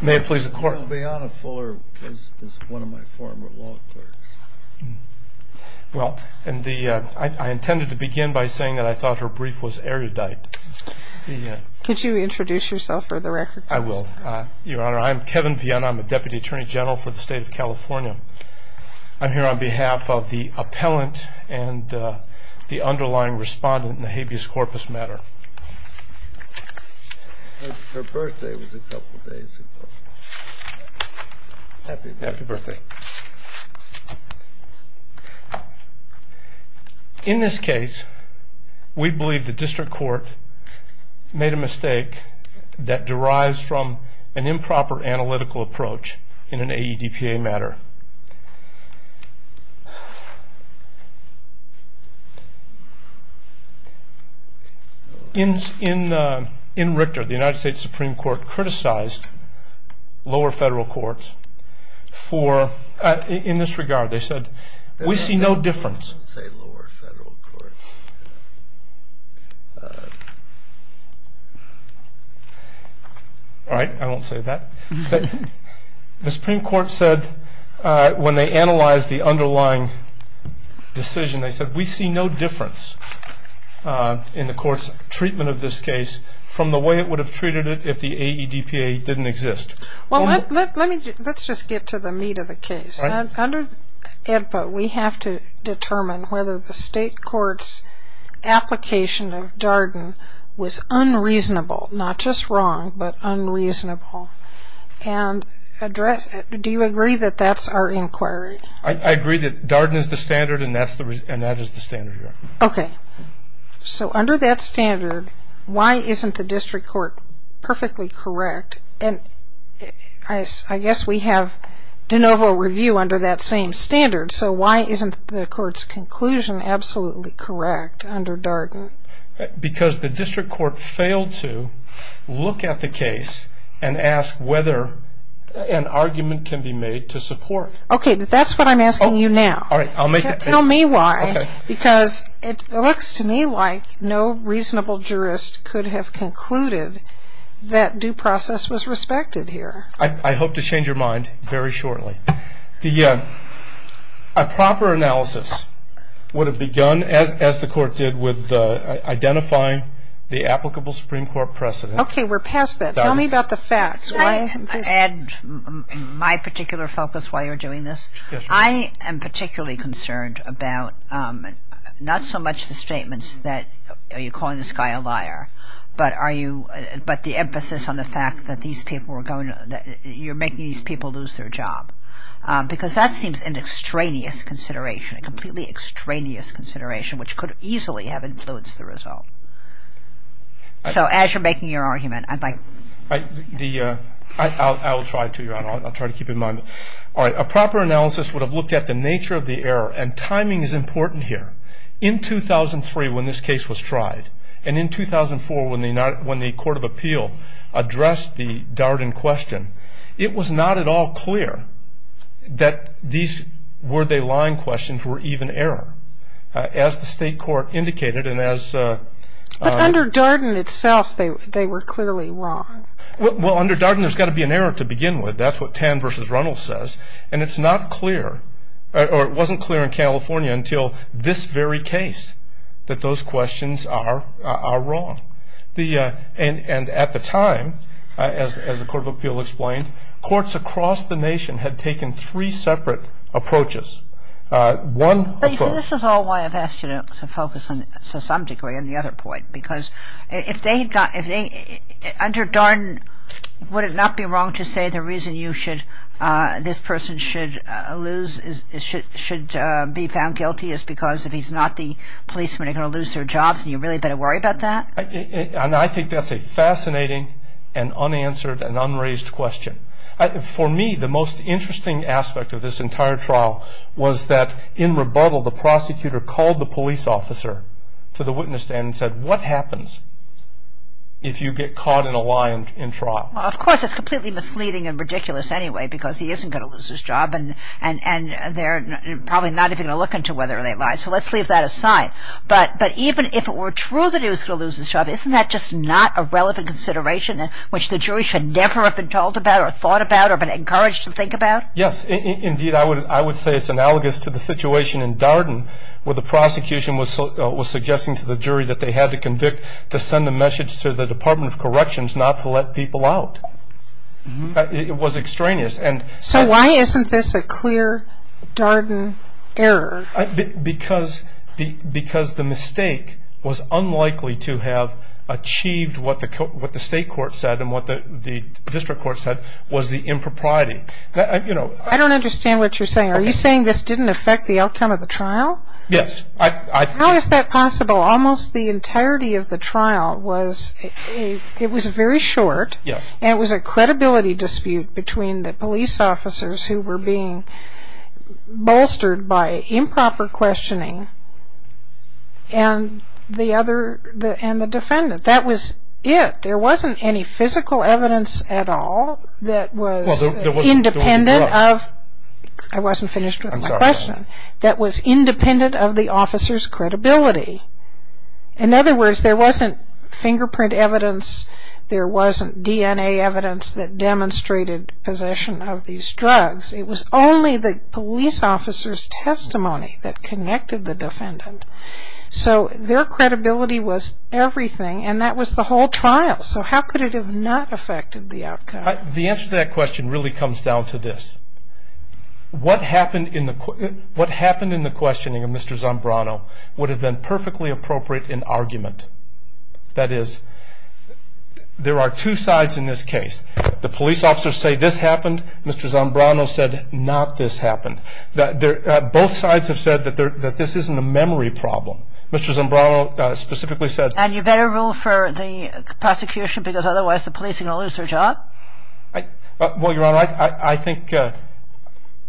May it please the Court. Kevin Vianna Fuller was one of my former law clerks. Well, I intended to begin by saying that I thought her brief was erudite. Could you introduce yourself for the record, please? I will, Your Honor. I'm Kevin Vianna. I'm a Deputy Attorney General for the State of California. I'm here on behalf of the appellant and the underlying respondent in the habeas corpus matter. Her birthday was a couple of days ago. Happy birthday. In this case, we believe the district court made a mistake that derives from an improper analytical approach in an AEDPA matter. In Richter, the United States Supreme Court criticized lower federal courts in this regard. They said, we see no difference. Don't say lower federal courts. All right, I won't say that. The Supreme Court said when they analyzed the underlying decision, they said we see no difference in the court's treatment of this case from the way it would have treated it if the AEDPA didn't exist. Well, let's just get to the meat of the case. Under AEDPA, we have to determine whether the state court's application of Darden was unreasonable, not just wrong, but unreasonable. And do you agree that that's our inquiry? I agree that Darden is the standard, and that is the standard here. Okay. So under that standard, why isn't the district court perfectly correct? And I guess we have de novo review under that same standard, so why isn't the court's conclusion absolutely correct under Darden? Because the district court failed to look at the case and ask whether an argument can be made to support. Okay, but that's what I'm asking you now. Tell me why, because it looks to me like no reasonable jurist could have concluded that due process was respected here. I hope to change your mind very shortly. A proper analysis would have begun, as the court did, with identifying the applicable Supreme Court precedent. Okay, we're past that. Tell me about the facts. Ed, my particular focus while you're doing this, I am particularly concerned about not so much the statements that you're calling this guy a liar, but the emphasis on the fact that you're making these people lose their job. Because that seems an extraneous consideration, a completely extraneous consideration, which could easily have influenced the result. So as you're making your argument, I'd like... I will try to keep in mind. All right, a proper analysis would have looked at the nature of the error, and timing is important here. In 2003, when this case was tried, and in 2004 when the Court of Appeal addressed the Darden question, it was not at all clear that these were they lying questions were even error. As the state court indicated, and as... But under Darden itself, they were clearly wrong. Well, under Darden, there's got to be an error to begin with. That's what Tan v. Runnell says. And it's not clear, or it wasn't clear in California until this very case, that those questions are wrong. And at the time, as the Court of Appeal explained, courts across the nation had taken three separate approaches. One... But you see, this is all why I've asked you to focus, to some degree, on the other point. Because if they got... Under Darden, would it not be wrong to say the reason you should... this person should lose... should be found guilty is because if he's not the policeman, they're going to lose their jobs, and you really better worry about that? And I think that's a fascinating and unanswered and unraised question. For me, the most interesting aspect of this entire trial was that in rebuttal, the prosecutor called the police officer to the witness stand and said, what happens if you get caught in a lie in trial? Of course, it's completely misleading and ridiculous anyway, because he isn't going to lose his job, and they're probably not even going to look into whether they lied. So let's leave that aside. But even if it were true that he was going to lose his job, isn't that just not a relevant consideration, which the jury should never have been told about or thought about or been encouraged to think about? Yes, indeed. I would say it's analogous to the situation in Darden, where the prosecution was suggesting to the jury that they had to convict to send a message to the Department of Corrections not to let people out. It was extraneous. So why isn't this a clear Darden error? Because the mistake was unlikely to have achieved what the state court said and what the district court said was the impropriety. I don't understand what you're saying. Are you saying this didn't affect the outcome of the trial? Yes. How is that possible? Almost the entirety of the trial was very short, and it was a credibility dispute between the police officers who were being bolstered by improper questioning and the defendant. That was it. There wasn't any physical evidence at all that was independent of I wasn't finished with my question. I'm sorry. That was independent of the officer's credibility. In other words, there wasn't fingerprint evidence, there wasn't DNA evidence that demonstrated possession of these drugs. It was only the police officer's testimony that connected the defendant. So their credibility was everything, and that was the whole trial. So how could it have not affected the outcome? The answer to that question really comes down to this. What happened in the questioning of Mr. Zambrano would have been perfectly appropriate in argument. That is, there are two sides in this case. The police officers say this happened. Mr. Zambrano said not this happened. Both sides have said that this isn't a memory problem. Mr. Zambrano specifically said And you better rule for the prosecution because otherwise the police are going to lose their job? Well, Your Honor, I think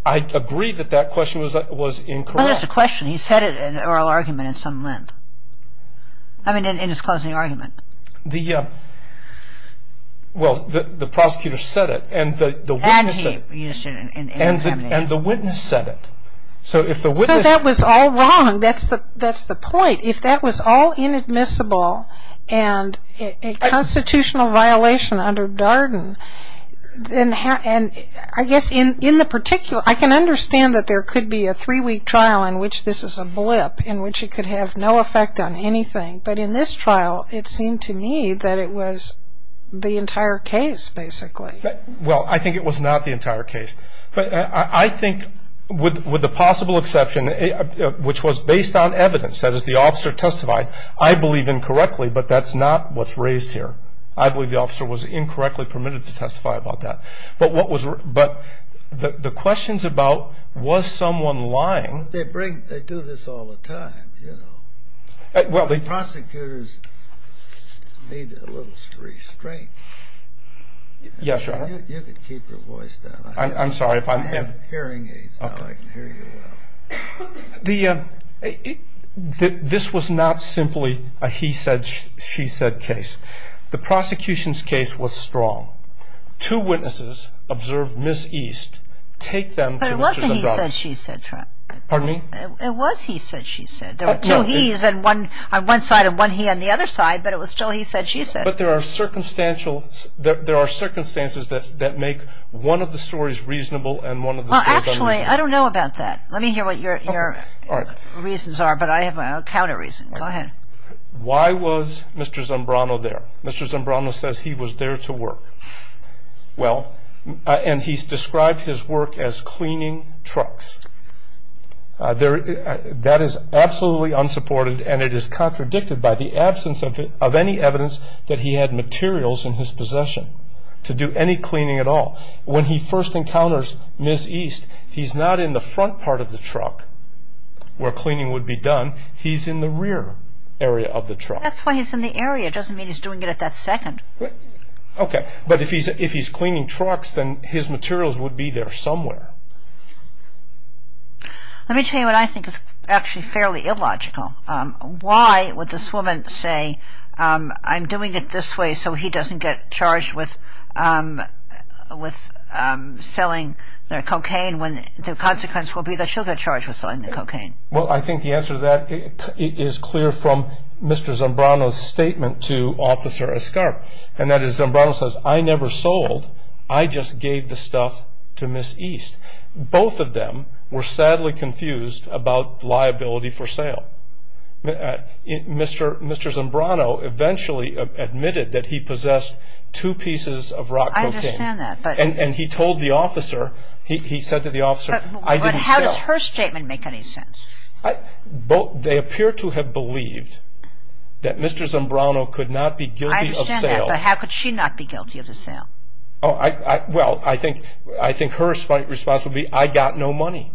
I agree that that question was incorrect. Well, it's a question. He said it in oral argument in some length. I mean, in his closing argument. Well, the prosecutor said it, and the witness said it. And he used it in examination. And the witness said it. So if the witness So that was all wrong. That's the point. If that was all inadmissible and a constitutional violation under Darden, then I guess in the particular, I can understand that there could be a three-week trial in which this is a blip, in which it could have no effect on anything. But in this trial, it seemed to me that it was the entire case, basically. Well, I think it was not the entire case. But I think with the possible exception, which was based on evidence, that is, the officer testified. I believe incorrectly, but that's not what's raised here. I believe the officer was incorrectly permitted to testify about that. But the questions about was someone lying? They do this all the time. Prosecutors need a little restraint. Yes, Your Honor. You can keep your voice down. I'm sorry. I have hearing aids now. I can hear you well. This was not simply a he said, she said case. The prosecution's case was strong. Two witnesses observed Ms. East take them to Mr. Zadravsky. But it wasn't he said, she said trial. Pardon me? It was he said, she said. There were two he's on one side and one he on the other side, but it was still he said, she said. and one of the stories unreasonable. Well, actually, I don't know about that. Let me hear what your reasons are, but I have a counter reason. Go ahead. Why was Mr. Zambrano there? Mr. Zambrano says he was there to work. Well, and he's described his work as cleaning trucks. That is absolutely unsupported, and it is contradicted by the absence of any evidence that he had materials in his possession to do any cleaning at all. When he first encounters Ms. East, he's not in the front part of the truck where cleaning would be done. He's in the rear area of the truck. That's why he's in the area. It doesn't mean he's doing it at that second. Okay. But if he's cleaning trucks, then his materials would be there somewhere. Let me tell you what I think is actually fairly illogical. Why would this woman say, I'm doing it this way so he doesn't get charged with selling the cocaine when the consequence will be that she'll get charged with selling the cocaine? Well, I think the answer to that is clear from Mr. Zambrano's statement to Officer Escarp, and that is Zambrano says, I never sold. I just gave the stuff to Ms. East. Both of them were sadly confused about liability for sale. Mr. Zambrano eventually admitted that he possessed two pieces of rock cocaine. I understand that. And he told the officer, he said to the officer, I didn't sell. But how does her statement make any sense? They appear to have believed that Mr. Zambrano could not be guilty of sale. I understand that, but how could she not be guilty of the sale? Well, I think her response would be, I got no money.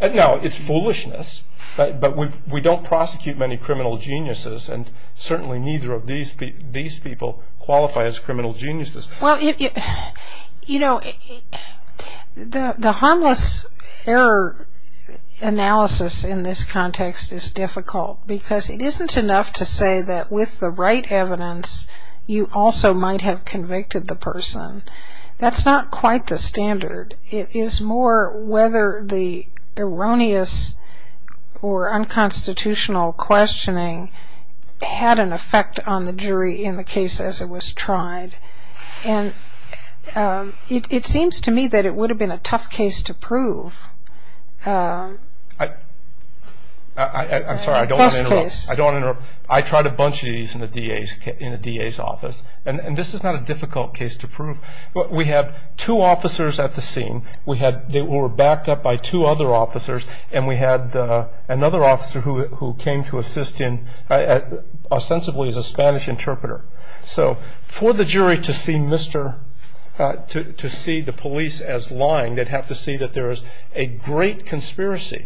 Now, it's foolishness, but we don't prosecute many criminal geniuses, and certainly neither of these people qualify as criminal geniuses. Well, you know, the harmless error analysis in this context is difficult because it isn't enough to say that with the right evidence, you also might have convicted the person. That's not quite the standard. It is more whether the erroneous or unconstitutional questioning had an effect on the jury in the case as it was tried. And it seems to me that it would have been a tough case to prove. I'm sorry, I don't want to interrupt. I don't want to interrupt. I tried a bunch of these in the DA's office, and this is not a difficult case to prove. We had two officers at the scene. They were backed up by two other officers, and we had another officer who came to assist ostensibly as a Spanish interpreter. So for the jury to see the police as lying, they'd have to see that there is a great conspiracy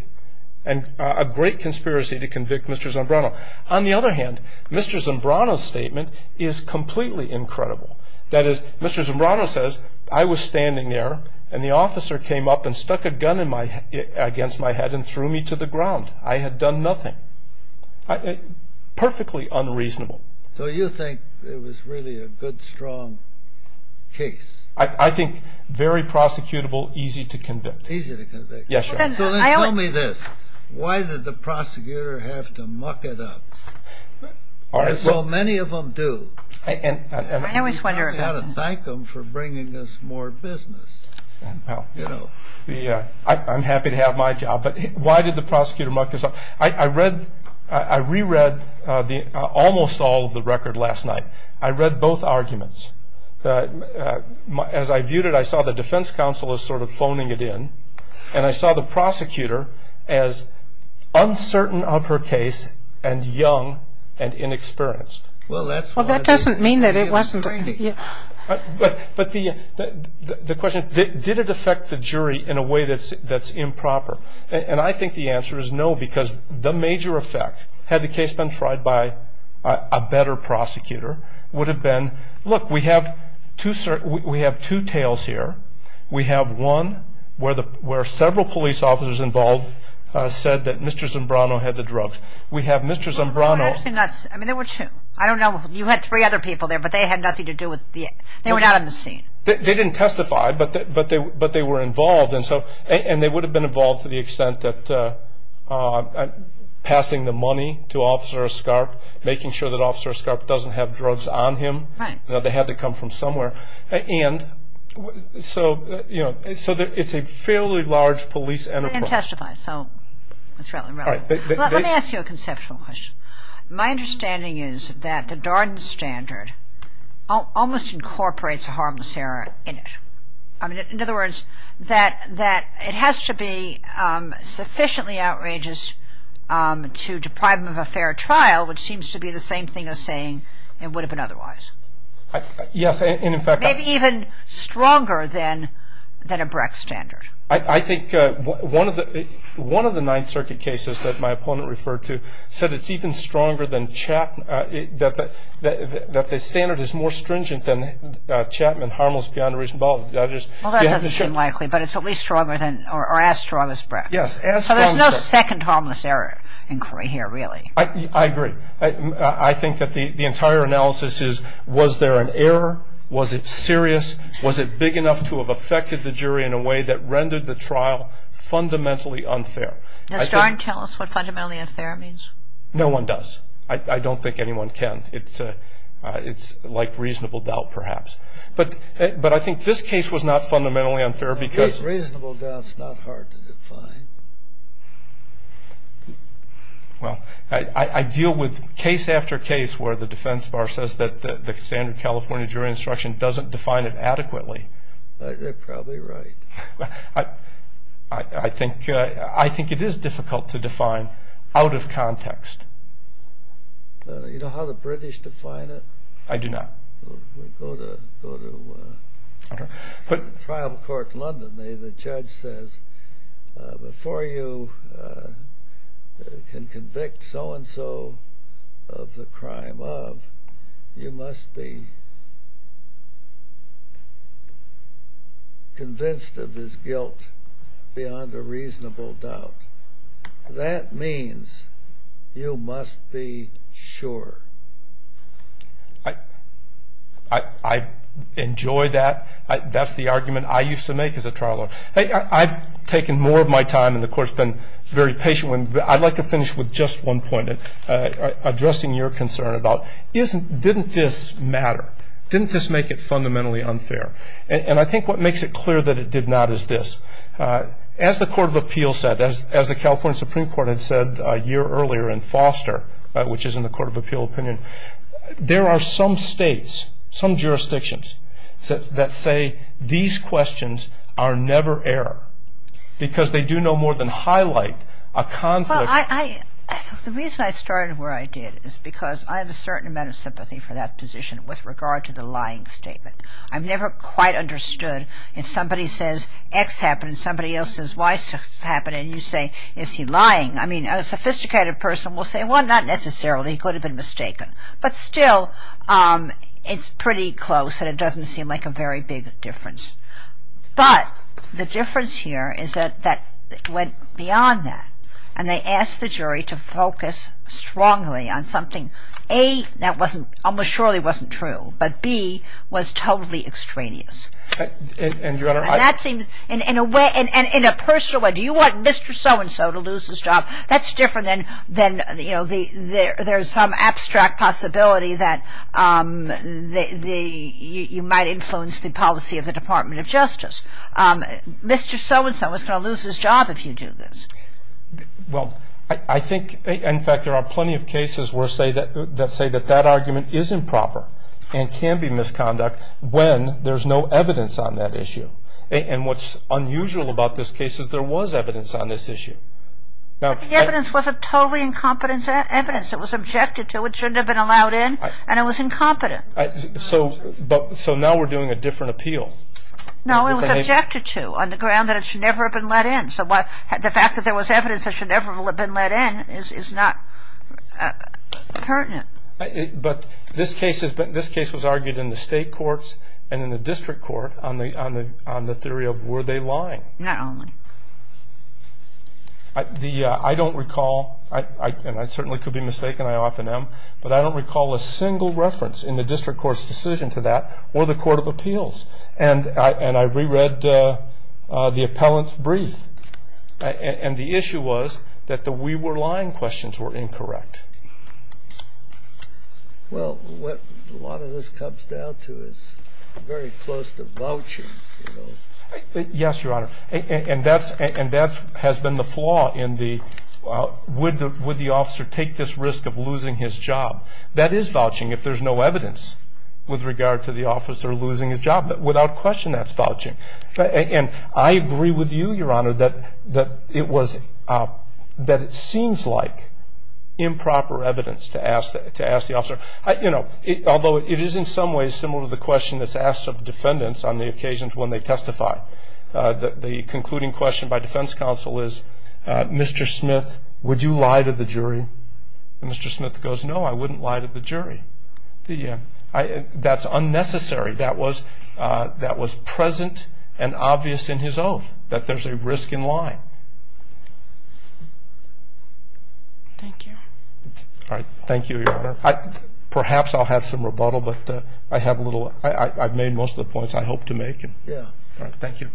to convict Mr. Zombrano. On the other hand, Mr. Zombrano's statement is completely incredible. That is, Mr. Zombrano says, I was standing there, and the officer came up and stuck a gun against my head and threw me to the ground. I had done nothing. Perfectly unreasonable. So you think it was really a good, strong case? I think very prosecutable, easy to convict. Easy to convict. Yes, sir. So then tell me this. Why did the prosecutor have to muck it up? So many of them do. I always wonder about that. You've got to thank them for bringing us more business. I'm happy to have my job, but why did the prosecutor muck this up? I reread almost all of the record last night. I read both arguments. As I viewed it, I saw the defense counsel as sort of phoning it in, and I saw the prosecutor as uncertain of her case and young and inexperienced. Well, that doesn't mean that it wasn't. But the question, did it affect the jury in a way that's improper? And I think the answer is no, because the major effect, had the case been tried by a better prosecutor, would have been, look, we have two tales here. We have one where several police officers involved said that Mr. Zimbrano had the drugs. We have Mr. Zimbrano. I mean, there were two. I don't know. You had three other people there, but they had nothing to do with it. They were not on the scene. They didn't testify, but they were involved, and they would have been involved to the extent that passing the money to Officer Escarp, making sure that Officer Escarp doesn't have drugs on him. They had to come from somewhere. And so, you know, it's a fairly large police enterprise. They didn't testify, so that's relevant. Let me ask you a conceptual question. My understanding is that the Darden Standard almost incorporates a harmless error in it. In other words, that it has to be sufficiently outrageous to deprive them of a fair trial, which seems to be the same thing as saying it would have been otherwise. Yes. Maybe even stronger than a Brecht Standard. I think one of the Ninth Circuit cases that my opponent referred to said it's even stronger than Chapman, that the standard is more stringent than Chapman, harmless beyond a reasonable doubt. Well, that doesn't seem likely, but it's at least stronger than or as strong as Brecht. Yes. So there's no second harmless error inquiry here, really. I agree. I think that the entire analysis is was there an error? Was it serious? Was it big enough to have affected the jury in a way that rendered the trial fundamentally unfair? Does Darden tell us what fundamentally unfair means? No one does. I don't think anyone can. It's like reasonable doubt, perhaps. But I think this case was not fundamentally unfair because... Yes, reasonable doubt is not hard to define. Well, I deal with case after case where the defense bar says that the standard California jury instruction doesn't define it adequately. They're probably right. I think it is difficult to define out of context. You know how the British define it? I do not. We'll go to trial court London. The judge says before you can convict so-and-so of the crime of, you must be convinced of his guilt beyond a reasonable doubt. That means you must be sure. I enjoy that. That's the argument I used to make as a trial lawyer. I've taken more of my time and, of course, been very patient. I'd like to finish with just one point, addressing your concern about didn't this matter? Didn't this make it fundamentally unfair? And I think what makes it clear that it did not is this. As the Court of Appeal said, as the California Supreme Court had said a year earlier in Foster, which is in the Court of Appeal opinion, there are some states, some jurisdictions that say these questions are never error because they do no more than highlight a conflict. The reason I started where I did is because I have a certain amount of sympathy for that position with regard to the lying statement. I've never quite understood if somebody says X happened and somebody else says Y happened and you say, is he lying? I mean, a sophisticated person will say, well, not necessarily. He could have been mistaken. But still, it's pretty close and it doesn't seem like a very big difference. But the difference here is that it went beyond that and they asked the jury to focus strongly on something, A, that almost surely wasn't true, but B, was totally extraneous. And that seems in a way, in a personal way, do you want Mr. So-and-so to lose his job? That's different than, you know, there's some abstract possibility that you might influence the policy of the Department of Justice. Mr. So-and-so is going to lose his job if you do this. Well, I think, in fact, there are plenty of cases that say that that argument is improper and can be misconduct when there's no evidence on that issue. And what's unusual about this case is there was evidence on this issue. But the evidence wasn't totally incompetent evidence. It was objected to. It shouldn't have been allowed in. And it was incompetent. So now we're doing a different appeal. No, it was objected to on the ground that it should never have been let in. So the fact that there was evidence that should never have been let in is not pertinent. But this case was argued in the state courts and in the district court on the theory of were they lying? Not only. I don't recall, and I certainly could be mistaken, I often am, but I don't recall a single reference in the district court's decision to that or the court of appeals. And I reread the appellant's brief. And the issue was that the we were lying questions were incorrect. Well, what a lot of this comes down to is very close to vouching. Yes, Your Honor. And that has been the flaw in the would the officer take this risk of losing his job. That is vouching if there's no evidence with regard to the officer losing his job. Without question, that's vouching. And I agree with you, Your Honor, that it seems like improper evidence to ask the officer. Although it is in some ways similar to the question that's asked of defendants on the occasions when they testify. The concluding question by defense counsel is, Mr. Smith, would you lie to the jury? And Mr. Smith goes, no, I wouldn't lie to the jury. That's unnecessary. That was present and obvious in his oath, that there's a risk in lying. Thank you. All right. Thank you, Your Honor. Perhaps I'll have some rebuttal, but I have a little. I've made most of the points I hope to make. Yeah. All right. Thank you.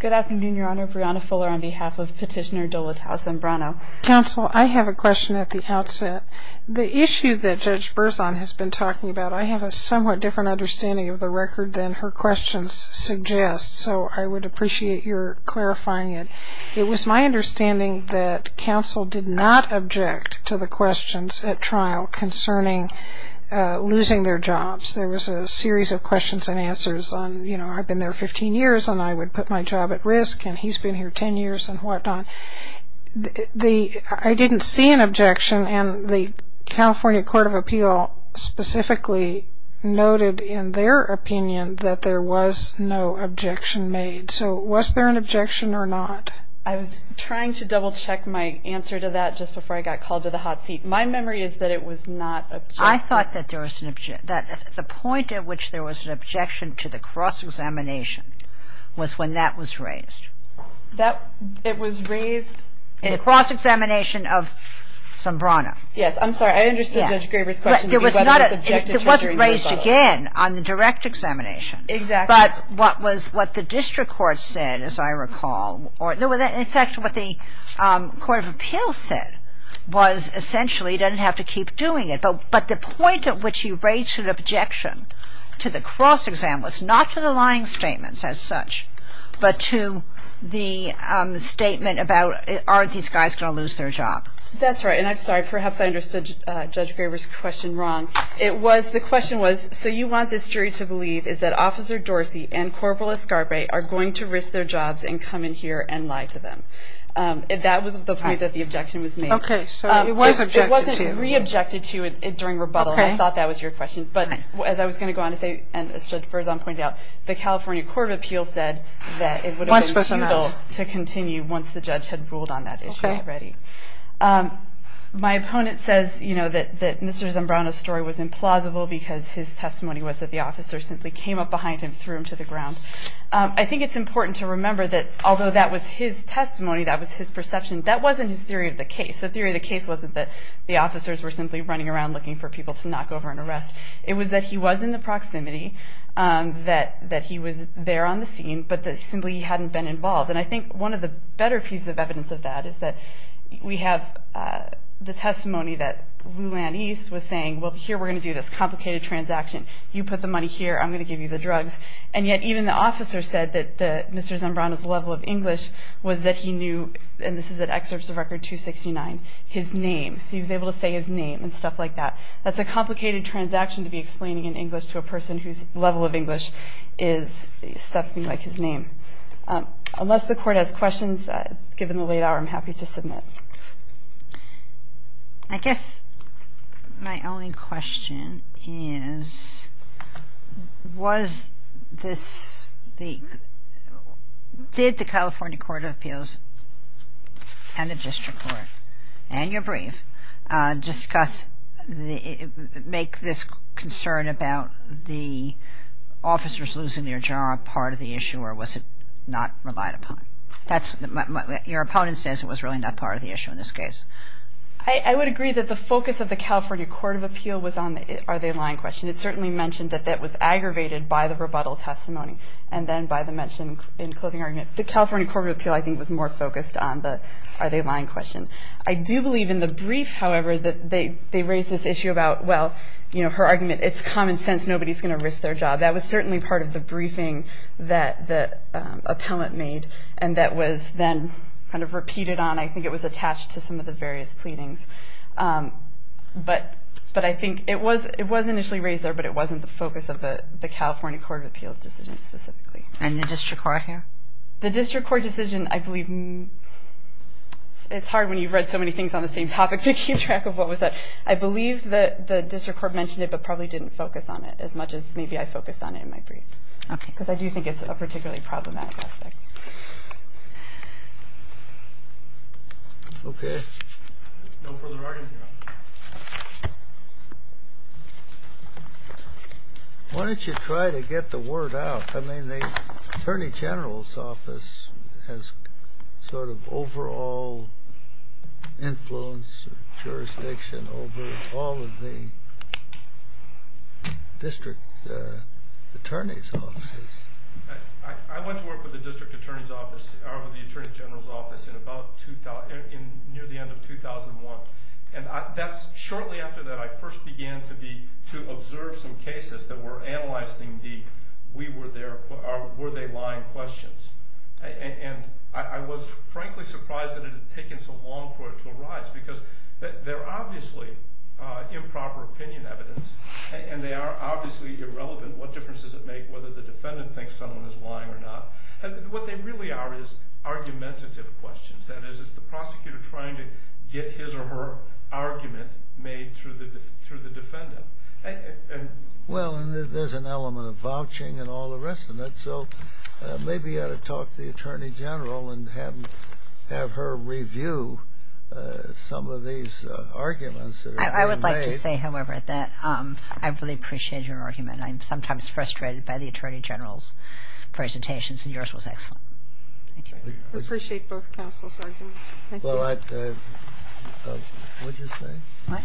Good afternoon, Your Honor. Brianna Fuller on behalf of Petitioner Dolatowsky and Brano. Counsel, I have a question at the outset. The issue that Judge Berzon has been talking about, I have a somewhat different understanding of the record than her questions suggest, so I would appreciate your clarifying it. It was my understanding that counsel did not object to the questions at trial concerning losing their jobs. There was a series of questions and answers on, you know, I've been there 15 years and I would put my job at risk and he's been here 10 years and whatnot. I didn't see an objection, and the California Court of Appeal specifically noted in their opinion that there was no objection made. So was there an objection or not? I was trying to double-check my answer to that just before I got called to the hot seat. My memory is that it was not an objection. I thought that the point at which there was an objection to the cross-examination was when that was raised. It was raised? In the cross-examination of some Brano. Yes, I'm sorry, I understood Judge Graber's question. It wasn't raised again on the direct examination. Exactly. But what the district court said, as I recall, in fact what the Court of Appeal said was essentially you didn't have to keep doing it, but the point at which you raised an objection to the cross-exam was not to the lying statements as such, but to the statement about aren't these guys going to lose their job? That's right, and I'm sorry, perhaps I understood Judge Graber's question wrong. The question was, so you want this jury to believe is that Officer Dorsey and Corporal Escarpaye are going to risk their jobs and come in here and lie to them. That was the point that the objection was made. Okay, so it was objected to. It wasn't re-objected to during rebuttal. I thought that was your question. But as I was going to go on to say, and as Judge Berzon pointed out, the California Court of Appeal said that it would have been futile to continue once the judge had ruled on that issue already. My opponent says that Mr. Zambrano's story was implausible because his testimony was that the officers simply came up behind him, threw him to the ground. I think it's important to remember that although that was his testimony, that was his perception, that wasn't his theory of the case. The theory of the case wasn't that the officers were simply running around looking for people to knock over and arrest. It was that he was in the proximity, that he was there on the scene, but that simply he hadn't been involved. And I think one of the better pieces of evidence of that is that we have the testimony that Lulan East was saying, well, here, we're going to do this complicated transaction. You put the money here. I'm going to give you the drugs. And yet even the officer said that Mr. Zambrano's level of English was that he knew, and this is at Excerpts of Record 269, his name. He was able to say his name and stuff like that. That's a complicated transaction to be explaining in English to a person whose level of English is something like his name. Unless the Court has questions, given the late hour, I'm happy to submit. I guess my only question is, was this the – did the California Court of Appeals and the district court and your brief discuss – make this concern about the officers losing their job part of the issue, or was it not relied upon? That's – your opponent says it was really not part of the issue in this case. I would agree that the focus of the California Court of Appeal was on the are they lying question. It certainly mentioned that that was aggravated by the rebuttal testimony and then by the mention in closing argument. The California Court of Appeal, I think, was more focused on the are they lying question. I do believe in the brief, however, that they raised this issue about, well, you know, her argument, it's common sense, nobody's going to risk their job. That was certainly part of the briefing that the appellant made and that was then kind of repeated on. I think it was attached to some of the various pleadings. But I think it was initially raised there, but it wasn't the focus of the California Court of Appeals decision specifically. And the district court here? The district court decision, I believe – it's hard when you've read so many things on the same topic to keep track of what was said. I believe that the district court mentioned it but probably didn't focus on it as much as maybe I focused on it in my brief. Okay. Because I do think it's a particularly problematic aspect. Okay. No further arguments, Your Honor. Why don't you try to get the word out? I mean, the attorney general's office has sort of overall influence, jurisdiction over all of the district attorney's offices. I went to work with the district attorney's office, or with the attorney general's office, near the end of 2001. Shortly after that, I first began to observe some cases that were analyzed in deep. Were they lying questions? And I was frankly surprised that it had taken so long for it to arise because they're obviously improper opinion evidence, and they are obviously irrelevant. What difference does it make whether the defendant thinks someone is lying or not? What they really are is argumentative questions. That is, is the prosecutor trying to get his or her argument made through the defendant? Well, there's an element of vouching and all the rest of it, so maybe you ought to talk to the attorney general and have her review some of these arguments that are being made. I would like to say, however, that I really appreciate your argument. I'm sometimes frustrated by the attorney general's presentations, and yours was excellent. Thank you. I appreciate both counsel's arguments. Thank you. Well, what did you say? What?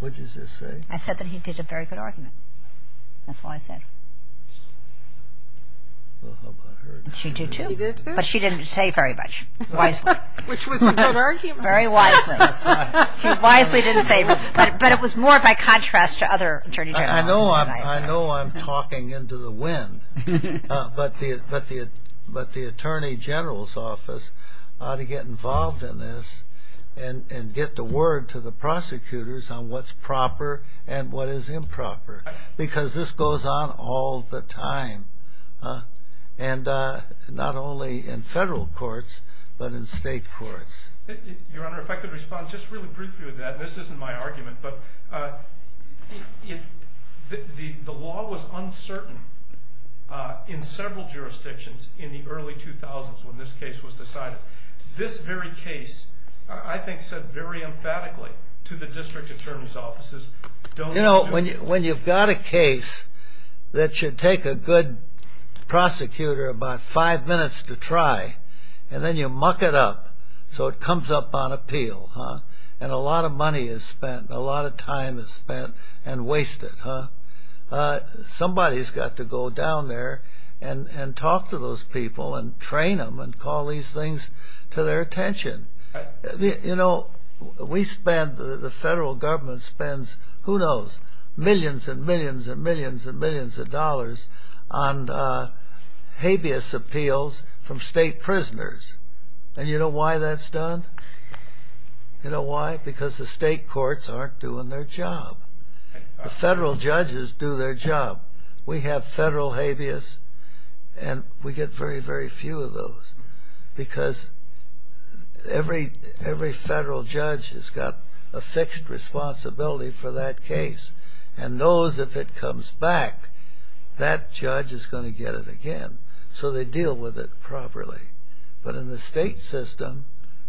What did you just say? I said that he did a very good argument. That's all I said. Well, how about her? She did, too. She did, too? But she didn't say very much, wisely. Which was a good argument. Very wisely. She wisely didn't say much, but it was more by contrast to other attorney generals. I know I'm talking into the wind, but the attorney general's office ought to get involved in this and get the word to the prosecutors on what's proper and what is improper, because this goes on all the time, and not only in federal courts but in state courts. Your Honor, if I could respond just really briefly to that, and this isn't my argument, but the law was uncertain in several jurisdictions in the early 2000s when this case was decided. This very case, I think, said very emphatically to the district attorney's offices, Don't do this. You know, when you've got a case that should take a good prosecutor about five minutes to try, and then you muck it up so it comes up on appeal, and a lot of money is spent and a lot of time is spent and wasted, somebody's got to go down there and talk to those people and train them and call these things to their attention. You know, we spend, the federal government spends, who knows, millions and millions and millions and millions of dollars on habeas appeals from state prisoners. And you know why that's done? You know why? Because the state courts aren't doing their job. The federal judges do their job. We have federal habeas, and we get very, very few of those because every federal judge has got a fixed responsibility for that case and knows if it comes back, that judge is going to get it again. So they deal with it properly. But in the state system,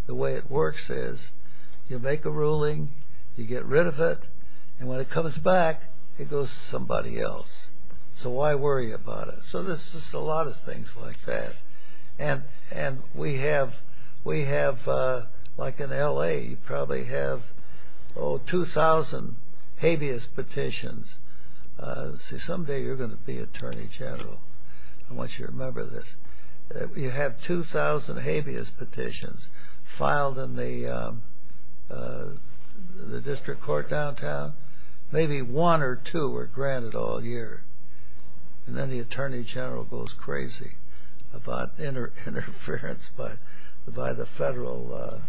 the way it works is you make a ruling, you get rid of it, and when it comes back, it goes to somebody else. So why worry about it? So there's just a lot of things like that. And we have, like in L.A., you probably have, oh, 2,000 habeas petitions. See, someday you're going to be attorney general. I want you to remember this. You have 2,000 habeas petitions filed in the district court downtown. Maybe one or two are granted all year. And then the attorney general goes crazy about interference by the federal.